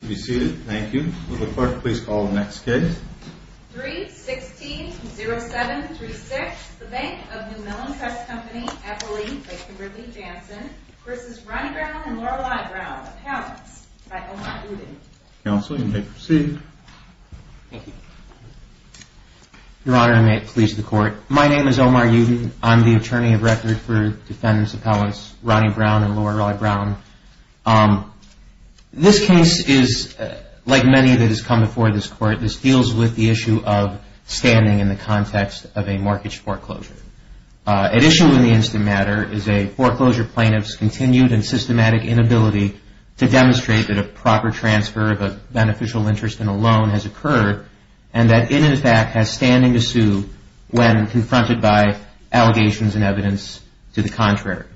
May it please the Court, my name is Omar Uden. I'm the Attorney of Record for Defendant's many that has come before this Court, this deals with the issue of standing in the context of a mortgage foreclosure. At issue in the instant matter is a foreclosure plaintiff's continued and systematic inability to demonstrate that a proper transfer of a beneficial interest in a loan has occurred and that it in fact has standing to sue when confronted by allegations and evidence to the contrary.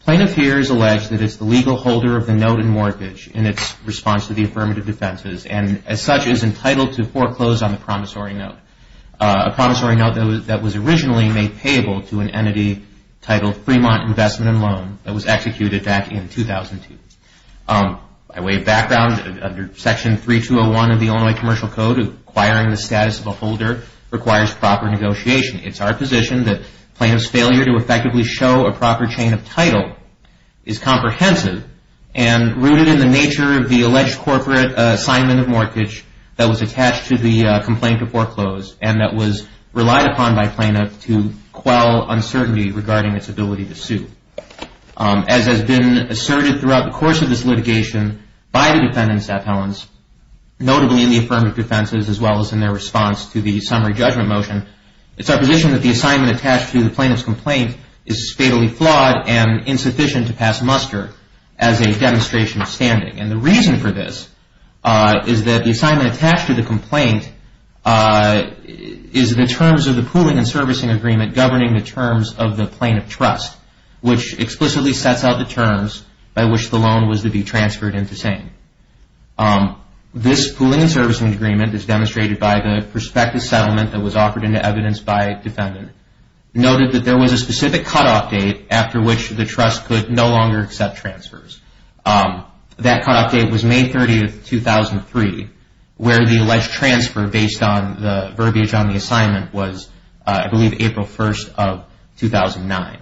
Plaintiff here has alleged that it's the legal holder of the affirmative defenses and as such is entitled to foreclose on the promissory note. A promissory note that was originally made payable to an entity titled Fremont Investment and Loan that was executed back in 2002. By way of background under section 3201 of the Illinois Commercial Code acquiring the status of a holder requires proper negotiation. It's our position that plaintiff's failure to effectively show a proper chain of title is comprehensive and rooted in the alleged corporate assignment of mortgage that was attached to the complaint of foreclose and that was relied upon by plaintiff to quell uncertainty regarding its ability to sue. As has been asserted throughout the course of this litigation by the defendant's appellants, notably in the affirmative defenses as well as in their response to the summary judgment motion, it's our position that the assignment attached to the plaintiff's complaint is fatally flawed and insufficient to demonstrate standing. And the reason for this is that the assignment attached to the complaint is the terms of the pooling and servicing agreement governing the terms of the plaintiff's trust which explicitly sets out the terms by which the loan was to be transferred into SANE. This pooling and servicing agreement is demonstrated by the prospective settlement that was offered into evidence by defendant noted that there was a specific cutoff date after which the trust could no longer accept transfers. That cutoff date was May 30th, 2003 where the alleged transfer based on the verbiage on the assignment was, I believe, April 1st of 2009.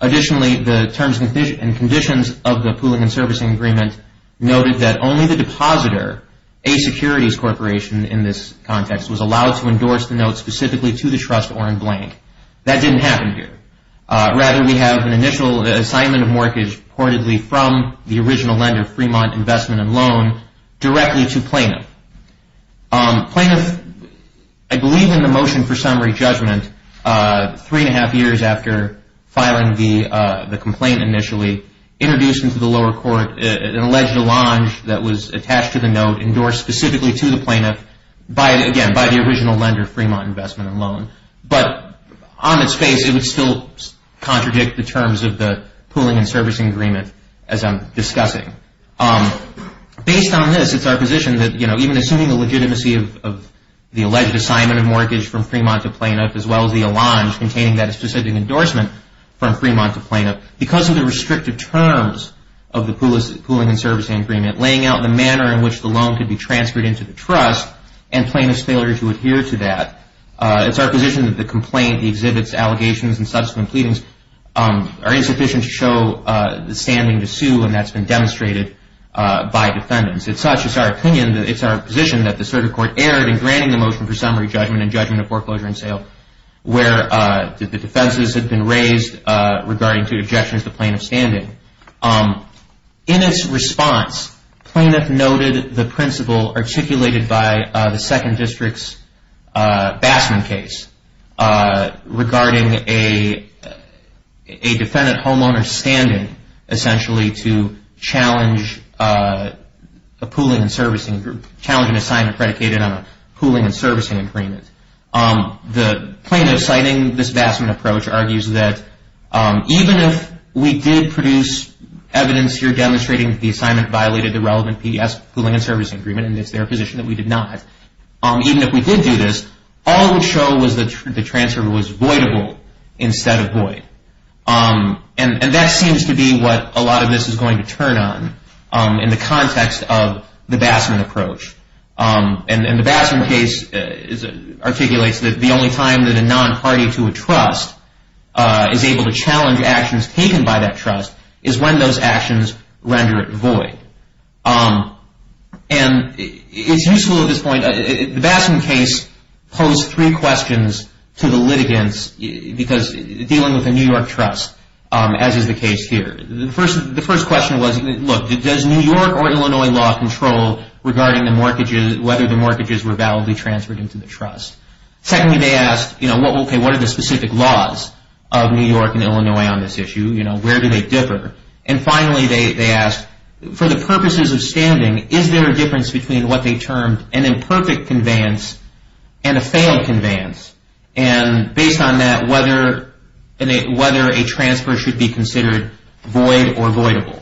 Additionally, the terms and conditions of the pooling and servicing agreement noted that only the depositor, a securities corporation in this context, was allowed to endorse the note specifically to the trust or in blank. That didn't happen here. Rather, we have an initial assignment of mortgage reportedly from the original lender, Fremont Investment and Loan, directly to plaintiff. Plaintiff, I believe in the motion for summary judgment, three and a half years after filing the complaint initially, introduced into the lower court an alleged allonge that was attached to the note endorsed specifically to the plaintiff by, again, by the original lender, Fremont Investment and Loan. But on its face, it would still contradict the terms of the pooling and servicing agreement as I'm discussing. Based on this, it's our position that even assuming the legitimacy of the alleged assignment of mortgage from Fremont to plaintiff as well as the allonge containing that specific endorsement from Fremont to plaintiff, because of the restrictive terms of the pooling and servicing agreement, laying out the manner in which the loan could be transferred into the trust and plaintiff's failure to adhere to that. It's our position that the complaint exhibits allegations and subsequent pleadings are insufficient to show the standing to sue and that's been demonstrated by defendants. It's such, it's our opinion, it's our position that the circuit court erred in granting the motion for summary judgment and judgment of foreclosure and sale where the defenses had been raised regarding two objections to plaintiff's standing. In its response, plaintiff noted the principle articulated by the second district's Bassman case regarding a defendant homeowner's standing essentially to challenge a pooling and servicing group, challenge an assignment predicated on a pooling and servicing agreement. The plaintiff citing this Bassman approach argues that even if we did produce evidence here demonstrating the assignment violated the relevant PES pooling and servicing agreement and it's their position that we did not, even if we did do this, all it would show was that the transfer was voidable instead of void. And that seems to be what a lot of this is going to articulate is that the only time that a non-party to a trust is able to challenge actions taken by that trust is when those actions render it void. And it's useful at this point, the Bassman case posed three questions to the litigants because dealing with a New York trust as is the case here. The first question was, look, does New York or Illinois law control regarding the mortgages, were validly transferred into the trust? Secondly, they asked, what are the specific laws of New York and Illinois on this issue? Where do they differ? And finally, they asked, for the purposes of standing, is there a difference between what they termed an imperfect conveyance and a failed conveyance? And based on that, whether a transfer should be considered void or voidable?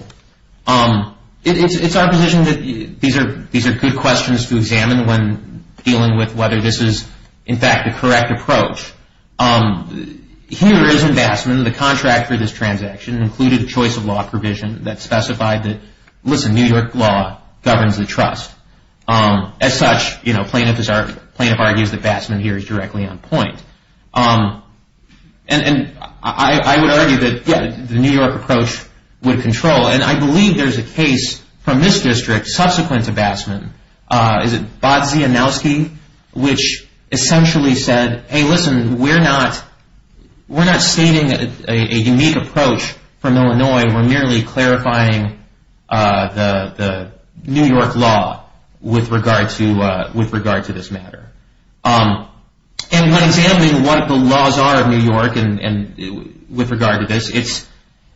It's our position that these are good questions to examine when dealing with whether this is, in fact, the correct approach. Here is in Bassman, the contract for this transaction included a choice of law provision that specified that, listen, New York law governs the trust. As such, plaintiff argues that Bassman here is directly on point. And I would argue that, yeah, the New York approach would control. And I believe there's a case from this district subsequent to Bassman, is it Bodzianowski, which essentially said, hey, listen, we're not stating a unique approach from Illinois. We're merely clarifying the New York law with regard to this matter. And when examining what the laws are of New York and with regard to this,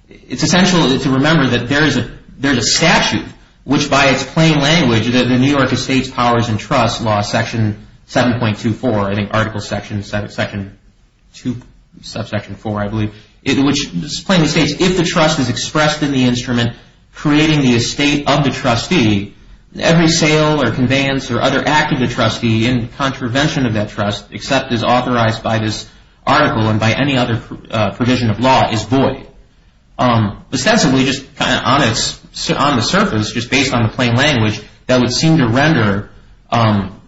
it's essential to remember that there's a statute which, by its plain language, the New York Estates Powers and Trusts Law, Section 7.24, I think Article Section 2, Subsection 4, I believe, which plainly states, if the trust is expressed in the instrument creating the estate of the trustee, every sale or conveyance or other act of the trustee in contravention of that trust except as authorized by this article and by any other provision of law is void. Ostensibly, just on the surface, just based on the plain language, that would seem to render an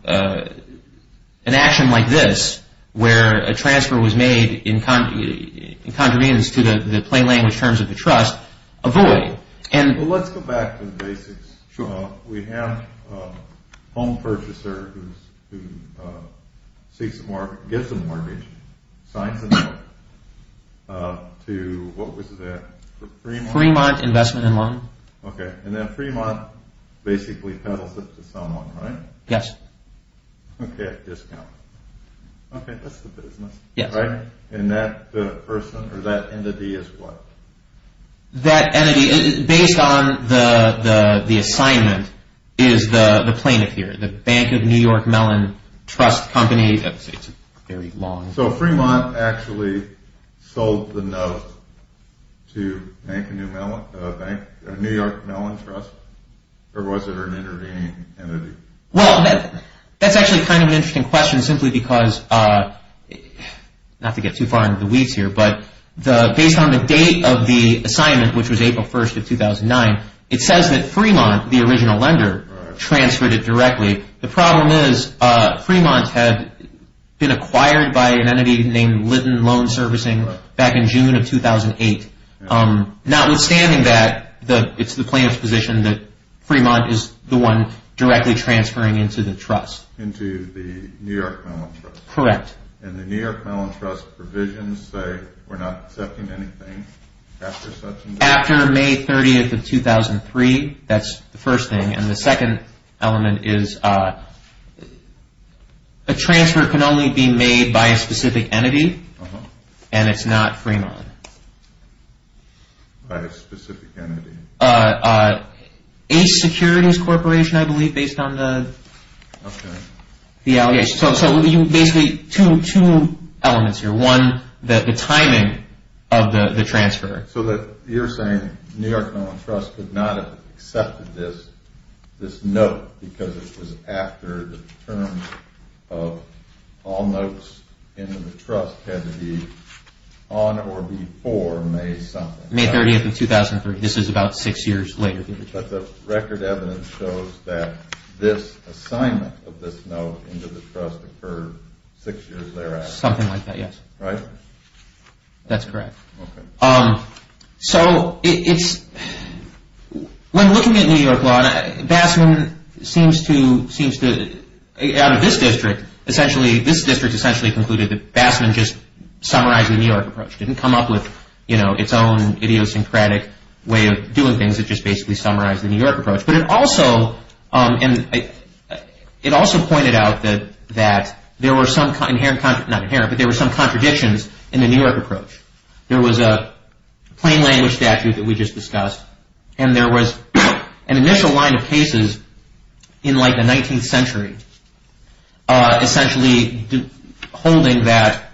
action like this, where a transfer was made in contravenance to the plain language terms of the trust, a void. Let's go back to the basics. We have a home purchaser who seeks a mortgage, gets a mortgage, signs a note to, what was that? Fremont Investment and Loan. Okay, and then Fremont basically peddles it to someone, right? Yes. Okay, discount. Okay, that's the business. Yes. Right? And that person or that entity is what? That entity, based on the assignment, is the plaintiff here, the Bank of New York Mellon Trust Company. It's very long. So Fremont actually sold the note to Bank of New York Mellon Trust? Or was it an intervening entity? Well, that's actually kind of an interesting question simply because, not to get too far into the weeds here, but based on the date of the assignment, which was April 1st of 2009, it says that Fremont, the original lender, transferred it directly. The problem is Fremont had been acquired by an entity named Litton Loan Servicing back in June of 2008. Notwithstanding that, it's the plaintiff's position that Fremont is the one directly transferring into the trust. Into the New York Mellon Trust? Correct. And the New York Mellon Trust provisions say we're not accepting anything after such and such? After May 30th of 2003, that's the first thing. And the second element is a transfer can only be made by a specific entity, and it's not Fremont. By a specific entity? Ace Securities Corporation, I believe, based on the allegations. So basically two elements here. One, the timing of the transfer. So you're saying New York Mellon Trust could not have accepted this note because it was after the terms of all notes in the trust had to be on or before May something. May 30th of 2003. This is about six years later. But the record evidence shows that this assignment of this note into the trust occurred six years later. Something like that, yes. Right? That's correct. So it's when looking at New York law, Bassman seems to, out of this district, essentially, this district essentially concluded that Bassman just summarized the New York approach. Didn't come up with, you know, its own idiosyncratic way of doing things. It just basically summarized the New There were some inherent, not inherent, but there were some contradictions in the New York approach. There was a plain language statute that we just discussed, and there was an initial line of cases in like the 19th century, essentially holding that,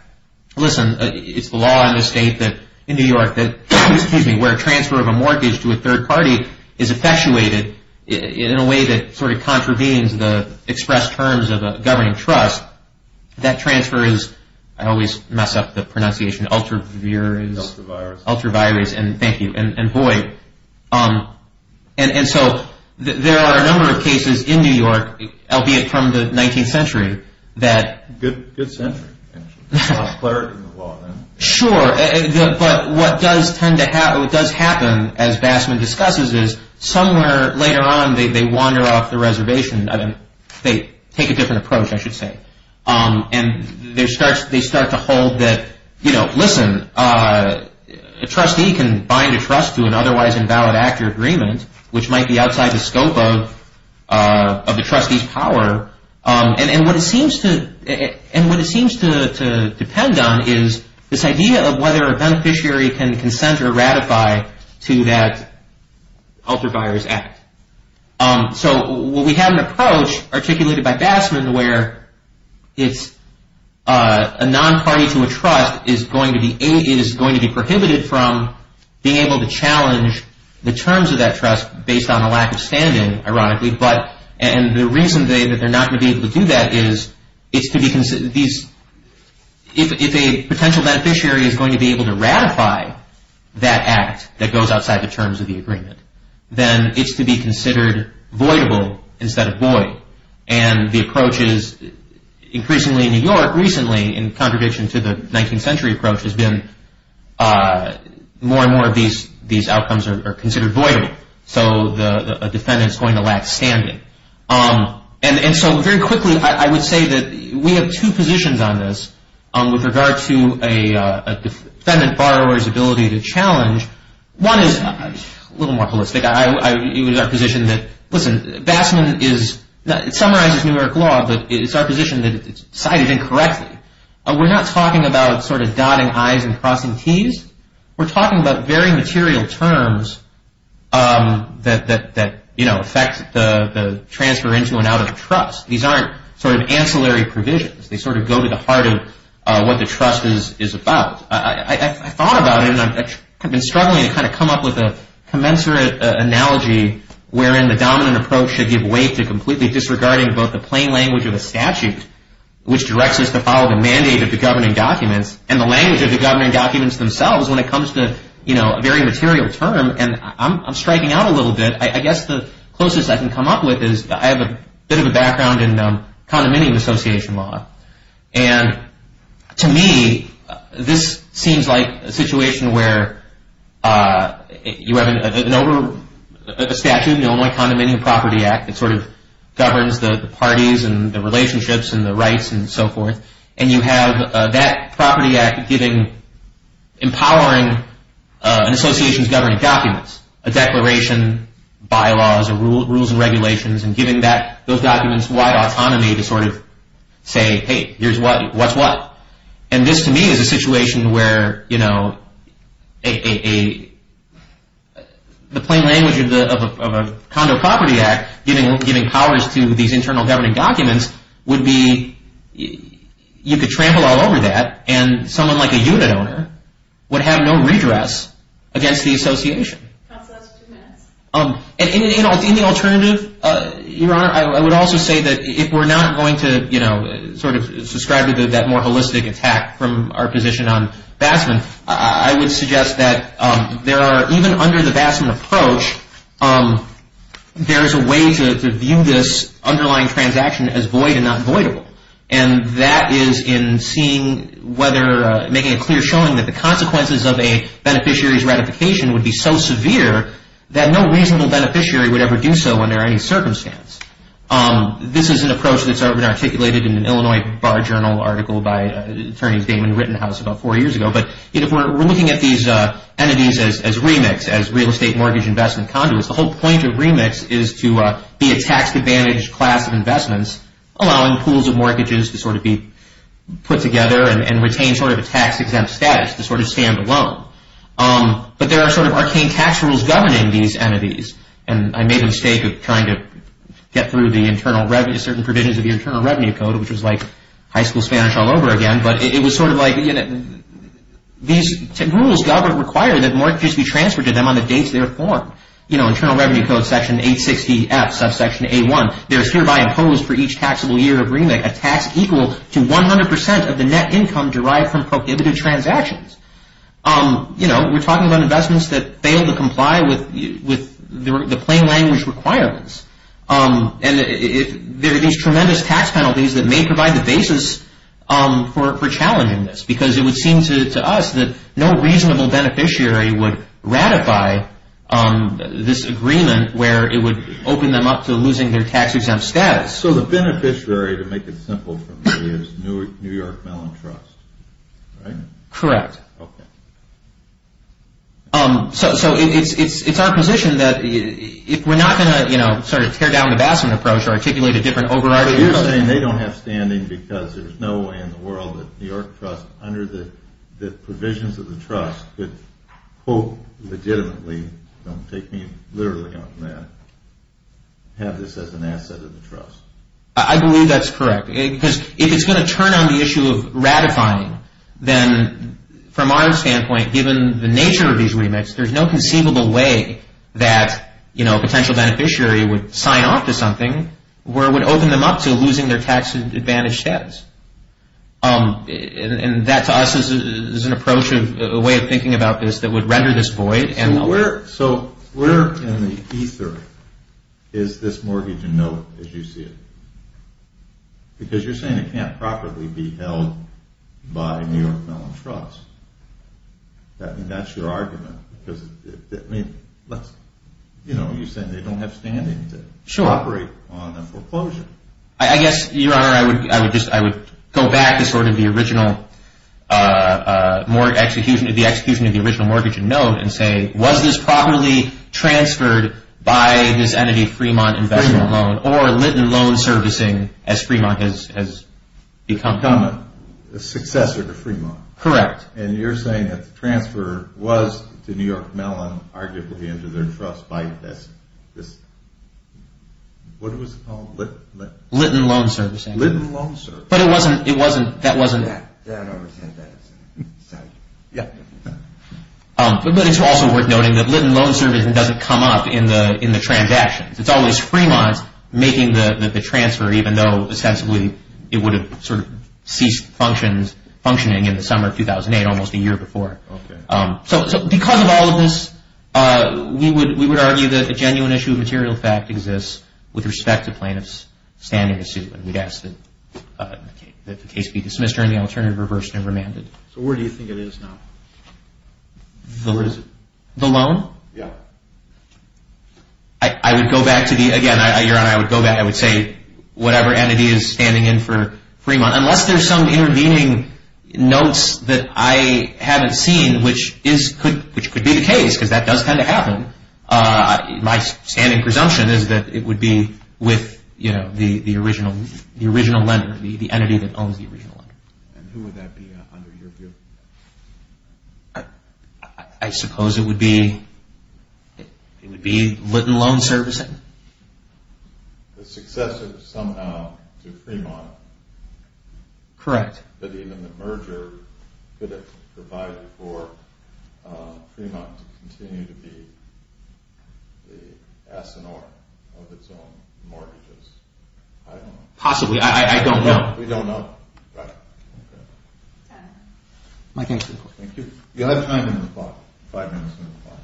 listen, it's the law in the state that, in New York, that, excuse me, where transfer of a mortgage to a third party is effectuated in a way that sort of contravenes the express terms of a governing trust, that transfer is, I always mess up the pronunciation, ultra-virus. Ultra-virus. Ultra-virus, and thank you, and boy. And so there are a number of cases in New York, albeit from the 19th century, that. Good century, actually. A cleric in the law, then. Sure. But what does tend to happen, as Bassman discusses, is somewhere later on, they wander off the reservation. I mean, they take a different approach, I should say. And they start to hold that, you know, listen, a trustee can bind a trust to an otherwise invalid actor agreement, which might be outside the scope of the trustee's power. And what it seems to depend on is this idea of whether a beneficiary can consent or ratify to that ultra-virus act. So we have an approach, articulated by Bassman, where it's a non-party to a trust is going to be prohibited from being able to challenge the terms of that trust based on a lack of standing, ironically. And the reason that they're not going to be able to do that is, if a potential beneficiary is going to be able to ratify that act that goes outside the terms of the agreement, then it's to be considered voidable instead of void. And the approach is increasingly in New York recently, in contradiction to the 19th century approach, has been more and more of these outcomes are considered voidable. So a defendant's going to lack standing. And so very quickly, I would say that we have two positions on this with regard to a defendant borrower's ability to challenge. One is a little more holistic. It was our position that, listen, Bassman is, it summarizes New York law, but it's our position that it's cited incorrectly. We're not talking about sort of dotting I's and crossing T's. We're talking about very material terms that, you know, affect the transfer into and out of provisions. They sort of go to the heart of what the trust is about. I thought about it, and I've been struggling to kind of come up with a commensurate analogy wherein the dominant approach should give way to completely disregarding both the plain language of the statute, which directs us to follow the mandate of the governing documents, and the language of the governing documents themselves when it comes to, you know, a very material term. And I'm striking out a little bit. I guess the closest I can come up with is, I have a bit of a background in condominium association law. And to me, this seems like a situation where you have a statute, the Illinois Condominium Property Act, that sort of governs the parties and the relationships and the rights and so forth. And you have that property act giving, empowering an association's governing documents, a declaration, bylaws, or rules and regulations, and giving that, those documents wide autonomy to sort of say, hey, here's what, what's what. And this, to me, is a situation where, you know, the plain language of a condo property act giving powers to these internal governing documents would be, you could trample all over that, and someone like a unit owner would have no redress against the association. And in the alternative, Your Honor, I would also say that if we're not going to, you know, sort of subscribe to that more holistic attack from our position on Bassman, I would suggest that there are, even under the Bassman approach, there is a way to view this underlying transaction as void and not voidable. And that is in seeing whether, making a clear showing that the consequences of a beneficiary's ratification would be so severe that no reasonable in an Illinois Bar Journal article by Attorneys Damon and Rittenhouse about four years ago. But if we're looking at these entities as remix, as real estate mortgage investment conduits, the whole point of remix is to be a tax-advantaged class of investments, allowing pools of mortgages to sort of be put together and retain sort of a tax-exempt status to sort of stand alone. But there are sort of arcane tax rules governing these entities. And I made a mistake of trying to get through the internal revenue, certain provisions of the Internal Revenue Code, which was like high school Spanish all over again. But it was sort of like, you know, these rules govern, require that mortgages be transferred to them on the dates they are formed. You know, Internal Revenue Code section 860F, subsection A1, there is hereby imposed for each taxable year of remix a tax equal to 100% of the net income derived from prohibitive transactions. You know, we're talking about investments that fail to comply with the plain language requirements. And there are these tremendous tax penalties that may provide the basis for challenging this, because it would seem to us that no reasonable beneficiary would ratify this agreement where it would open them up to losing their tax-exempt status. So the beneficiary, to make it simple for me, is New York Mellon Trust, right? Correct. Okay. So it's our position that if we're not going to, you know, sort of tear down the Bassman approach or articulate a different overriding... You're saying they don't have standing because there's no way in the world that New York Trust, under the provisions of the trust, could, quote, legitimately, don't take me literally on that, have this as an asset of the trust. I believe that's correct. Because if it's going to turn on the issue of ratifying, then, from our standpoint, given the nature of these remits, there's no conceivable way that, you know, a potential beneficiary would sign off to something where it would open them up to losing their tax advantage status. And that, to us, is an approach, a way of thinking about this that would render this void. So where in the ether is this mortgage in note, as you see it? Because you're saying it can't properly be held by New York Mellon Trust. That's your argument. Because, I mean, let's... You know, you're saying they don't have standing to operate on a foreclosure. I guess, Your Honor, I would just, I would go back to sort of the original execution, the execution of the original mortgage in note and say, was this properly transferred by this entity, Fremont Investment Loan, or Litton Loan Servicing, as Fremont has become... Become a successor to Fremont. Correct. And you're saying that the transfer was to New York Mellon, arguably into their trust by this... What was it called? Litton Loan Servicing. Litton Loan Servicing. But it wasn't, it wasn't, that wasn't... That, that, I would say that. Yeah. But it's also worth noting that Litton Loan Servicing doesn't come up in the transactions. It's always Fremont making the transfer, even though, ostensibly, it would have sort of ceased functions, functioning in the summer of 2008, almost a year before. Okay. So, because of all of this, we would argue that a genuine issue of material fact exists with respect to plaintiff's standing to sue. And we'd ask that the case be dismissed during the alternative, reversed, and remanded. So where do you think it is now? The what is it? The loan? Yeah. I, I would go back to the... Again, Your Honor, I would go back. I would say whatever entity is standing in for Fremont, unless there's some intervening notes that I haven't seen, which is, could, which could be the case, because that does tend to happen. My standing presumption is that it would be with, you know, the, the original, the original lender, the entity that owns the original lender. And who would that be, under your view? I, I suppose it would be, it would be Litton Loan Servicing. The successor, somehow, to Fremont. Correct. But even the merger, could it provide for Fremont to continue to be the Asinor of its own mortgages? I don't know. Possibly. I, I don't know. You don't know? Right. Thank you. Thank you. You'll have time in the floor. Five minutes in the floor.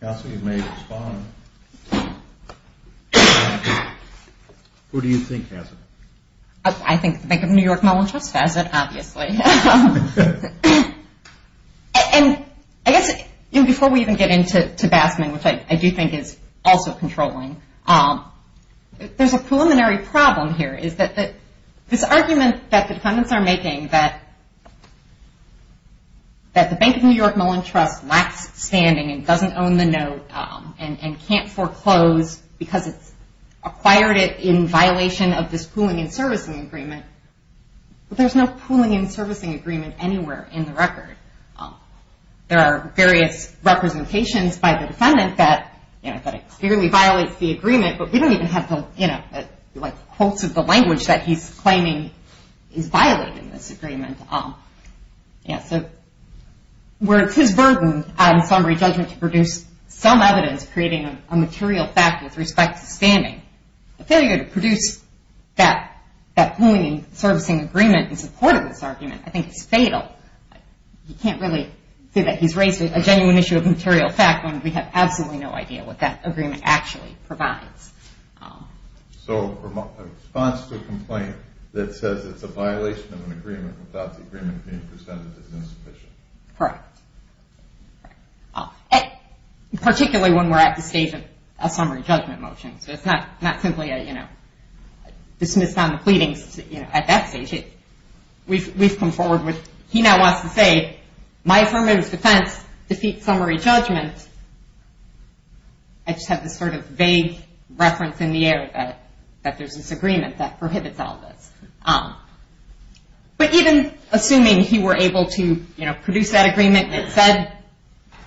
Counsel, you may respond. Who do you think has it? I think the Bank of New York Mellon Trust has it, obviously. And I guess, you know, before we even get into, to Basman, which I, I do think is also controlling, um, there's a preliminary problem here, is that, that this argument that defendants are making, that, that the Bank of New York Mellon Trust lacks standing and doesn't own the note, um, and, and can't foreclose because it's acquired it in violation of this pooling and servicing agreement. But there's no pooling and servicing agreement anywhere in the record. There are various representations by the defendant that, you know, that it clearly violates the agreement, but we don't even have the, you know, like, quotes of the language that he's claiming is violating this agreement. Um, yeah, so where it's his burden on summary judgment to produce some evidence creating a material fact with respect to standing, the failure to produce that, that pooling and servicing agreement in support of this argument, I think is fatal. You can't really say that he's raised a genuine issue of material fact when we have absolutely no idea what that agreement actually provides. So a response to a complaint that says it's a violation of an agreement without the agreement being presented is insufficient. Correct. Particularly when we're at the stage of a summary judgment motion. So it's not, not simply a, you know, dismissed on the pleadings, you know, at that stage. We've, we've come forward with, he now wants to say, my affirmative defense defeats summary judgment. I just have this sort of vague reference in the air that, that there's this agreement that prohibits all this. But even assuming he were able to, you know, produce that agreement that said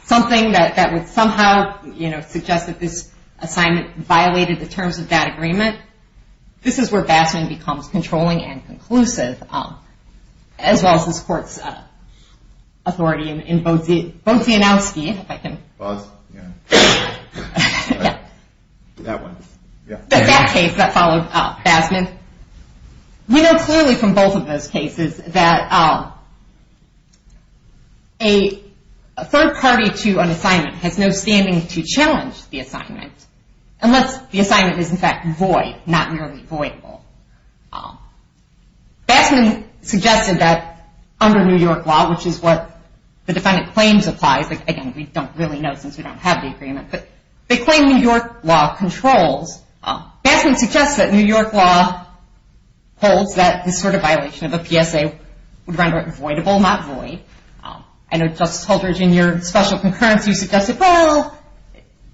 something that, that would somehow, you know, suggest that this assignment violated the terms of that agreement. This is where Bassman becomes controlling and conclusive, as well as this court's authority in Bozianowski, if I can. Boz, yeah, that one, yeah. The fact case that followed Bassman. We know clearly from both of those cases that a third party to an assignment has no standing to challenge the assignment, unless the assignment is in fact void, not merely voidable. Bassman suggested that under New York law, which is what the defendant claims applies, again, we don't really know since we don't have the agreement, but they claim New York law controls. Bassman suggests that New York law holds that this sort of violation of a PSA would render it voidable, not void. I know Justice Holdridge, in your special concurrence, you suggested, well,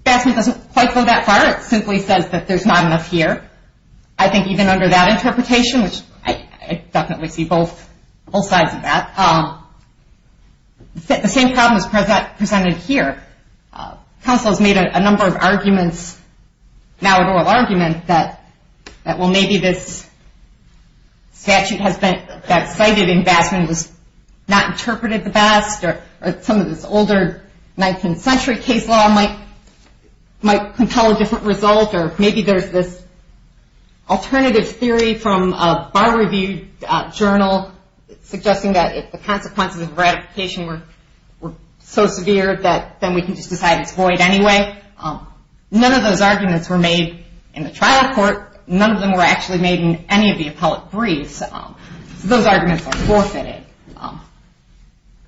Bassman doesn't quite go that far. It simply says that there's not enough here. I think even under that interpretation, which I definitely see both sides of that, the same problem is presented here. Counsel has made a number of arguments, now an oral argument, that, well, maybe this statute that's cited in Bassman was not interpreted the best, or some of this older 19th century case law might compel a different result, or maybe there's this alternative theory from a bar review journal suggesting that if the consequences of ratification were so severe, that then we can just decide it's void anyway. None of those arguments were made in the trial court. None of them were actually made in any of the appellate briefs. Those arguments are forfeited.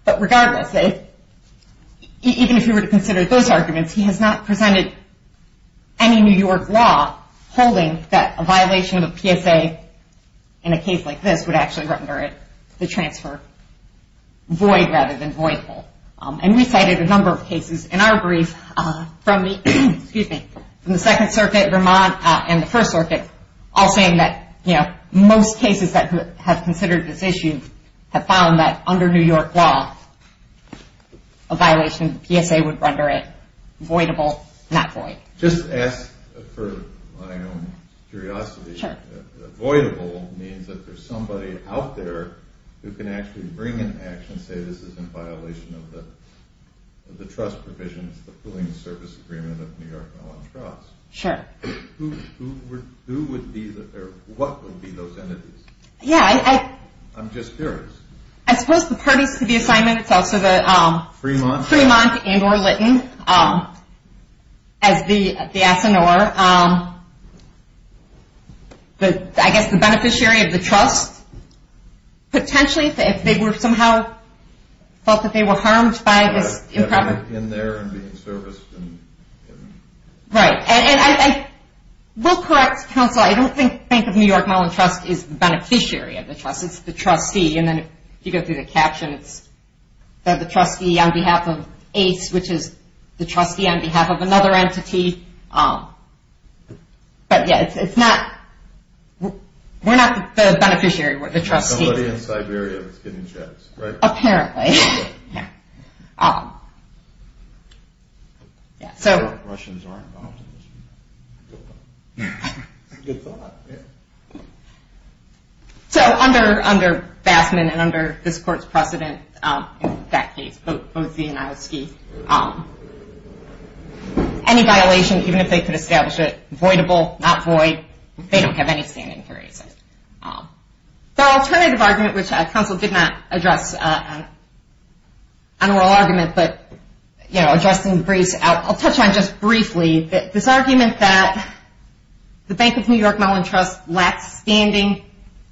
But regardless, even if you were to consider those arguments, he has not presented any New York law holding that a violation of the PSA in a case like this would actually render the transfer void rather than voidful. And we cited a number of cases in our brief from the Second Circuit, Vermont, and the First Circuit, all saying that most cases that have considered this issue have found that under New York law, a violation of the PSA would render it voidable, not void. Just ask for my own curiosity. Sure. Voidable means that there's somebody out there who can actually bring an action, say this is in violation of the trust provisions, the pooling service agreement of New York Mellon Trust. Sure. Who would be, or what would be those entities? Yeah, I... I'm just curious. I suppose the parties to the assignment, it's also the... Fremont, and or Litton, as the asinore. I guess the beneficiary of the trust. Potentially, if they were somehow felt that they were harmed by this imprev... In there and being serviced. Right, and I will correct counsel. I don't think of New York Mellon Trust as the beneficiary of the trust. It's the trustee. And then if you go through the captions, they're the trustee on behalf of ACE, which is the trustee on behalf of another entity. But yeah, it's not... We're not the beneficiary, we're the trustee. Somebody in Siberia was getting checks, right? Apparently. Yeah, so... Russians aren't optimists. Good thought, yeah. So, under Bassman and under this court's precedent, that case, Boese and Ioski, any violation, even if they could establish it, voidable, not void, they don't have any standing to raise it. The alternative argument, which counsel did not address on oral argument, but, you know, addressing the briefs out... I'll touch on just briefly, this argument that the Bank of New York Mellon Trust lacked standing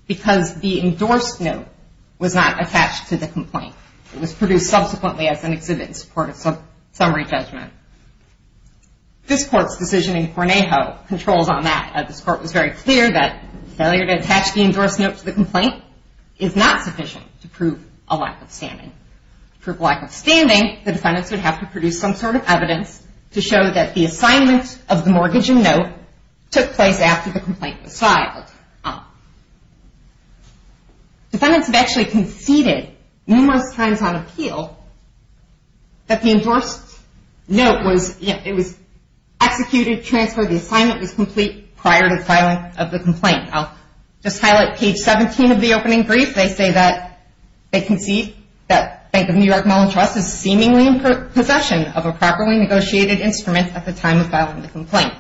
because the endorsed note was not attached to the complaint. It was produced subsequently as an exhibit in support of summary judgment. This court's decision in Cornejo controls on that. This court was very clear that failure to attach the endorsed note to the complaint is not sufficient to prove a lack of standing. To prove a lack of standing, the defendants would have to produce some sort of evidence to show that the assignment of the mortgage and note took place after the complaint was filed. Defendants have actually conceded numerous times on appeal that the endorsed note was, you know, it was executed, transferred, the assignment was complete prior to filing of the complaint. I'll just highlight page 17 of the opening brief. They say that they concede that Bank of New York Mellon Trust is seemingly in possession of a properly negotiated instrument at the time of filing the complaint.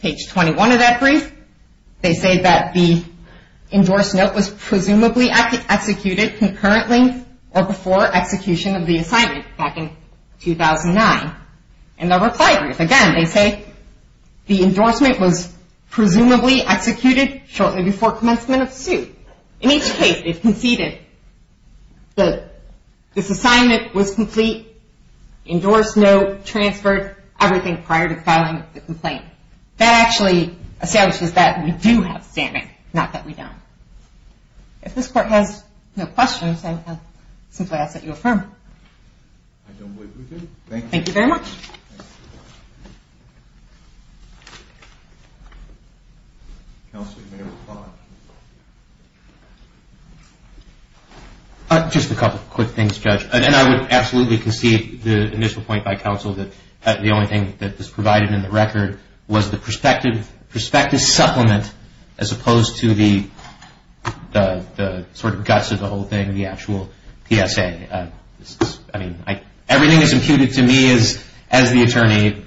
Page 21 of that brief, they say that the endorsed note was presumably executed concurrently or before execution of the assignment back in 2009. And the reply brief, again, they say the endorsement was presumably executed shortly before commencement of suit. In each case, they've conceded endorsed note, transferred, everything prior to filing the complaint. That actually establishes that we do have standing, not that we don't. If this court has no questions, I simply ask that you affirm. I don't believe we do. Thank you very much. Counsel, you may reply. Just a couple of quick things, Judge. And I would absolutely concede the initial point by counsel that the only thing that is provided in the record was the prospective supplement as opposed to the sort of guts of the whole thing, the actual PSA. I mean, everything is imputed to me as the attorney.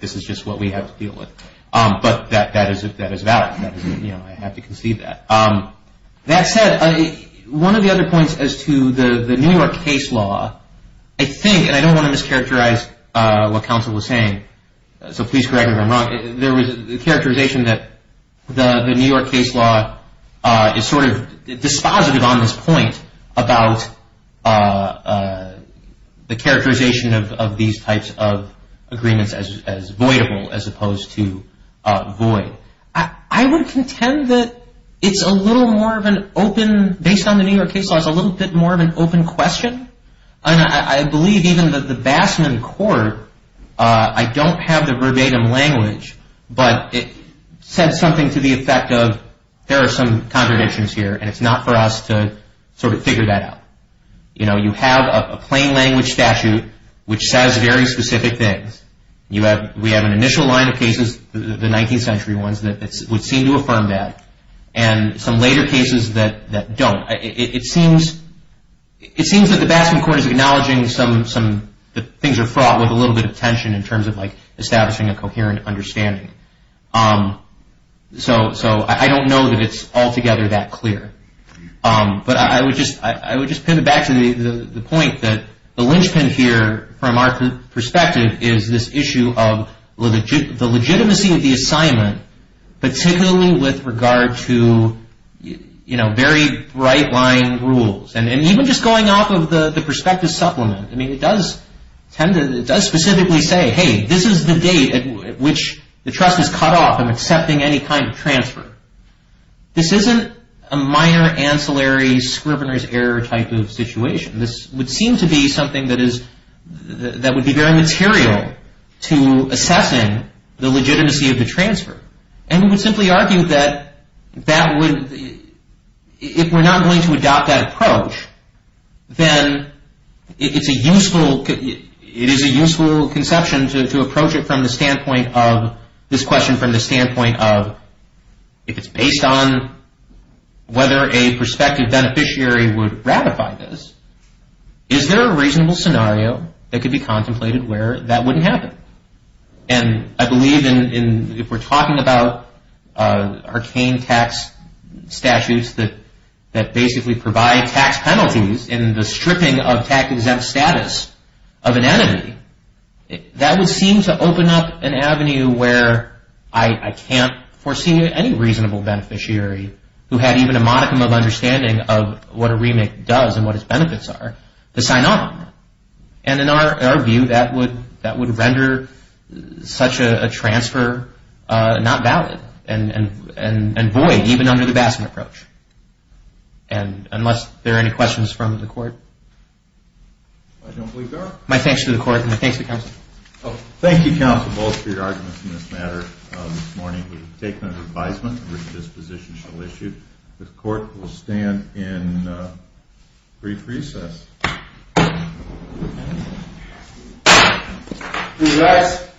This is just what we have to deal with. But that is valid. I have to concede that. That said, one of the other points as to the New York case law, I think, and I don't want to mischaracterize what counsel was saying, so please correct me if I'm wrong. There was the characterization that the New York case law is sort of dispositive on this point about the characterization of these types of agreements as voidable as opposed to void. I would contend that it's a little more of an open, based on the New York case law, it's a little bit more of an open question. And I believe even the Bassman court, I don't have the verbatim language, but it said something to the effect of, there are some contradictions here and it's not for us to sort of figure that out. You know, you have a plain language statute which says very specific things. We have an initial line of cases, the 19th century ones, that would seem to affirm that. And some later cases that don't. It seems that the Bassman court is acknowledging that things are fraught with a little bit of tension in terms of establishing a coherent understanding. So I don't know that it's altogether that clear. But I would just pin it back to the point that the linchpin here from our perspective is this issue of the legitimacy of the assignment, particularly with regard to, you know, very bright line rules. And even just going off of the perspective supplement, I mean, it does tend to, it does specifically say, hey, this is the date at which the trust is cut off and accepting any kind of transfer. This isn't a minor ancillary scrivener's error type of situation. This would seem to be something that is, that would be very material to assessing the legitimacy of the transfer. And we would simply argue that that would, if we're not going to adopt that approach, then it's a useful, it is a useful conception to approach it from the standpoint of, this question from the standpoint of, if it's based on whether a prospective beneficiary would ratify this, is there a reasonable scenario that could be contemplated where that wouldn't happen? And I believe in, if we're talking about arcane tax statutes that basically provide tax penalties in the stripping of tax-exempt status of an entity, that would seem to open up an avenue where I can't foresee any reasonable beneficiary who had even a modicum of understanding of what a remake does and what its benefits are to sign on. And in our view, that would render such a transfer not valid and void even under the Bassman approach. And unless there are any questions from the court. I don't believe there are. My thanks to the court and my thanks to counsel. Well, thank you, counsel, both for your arguments in this matter this morning. We've taken an advisement which this position shall issue. The court will stand in brief recess. Recess.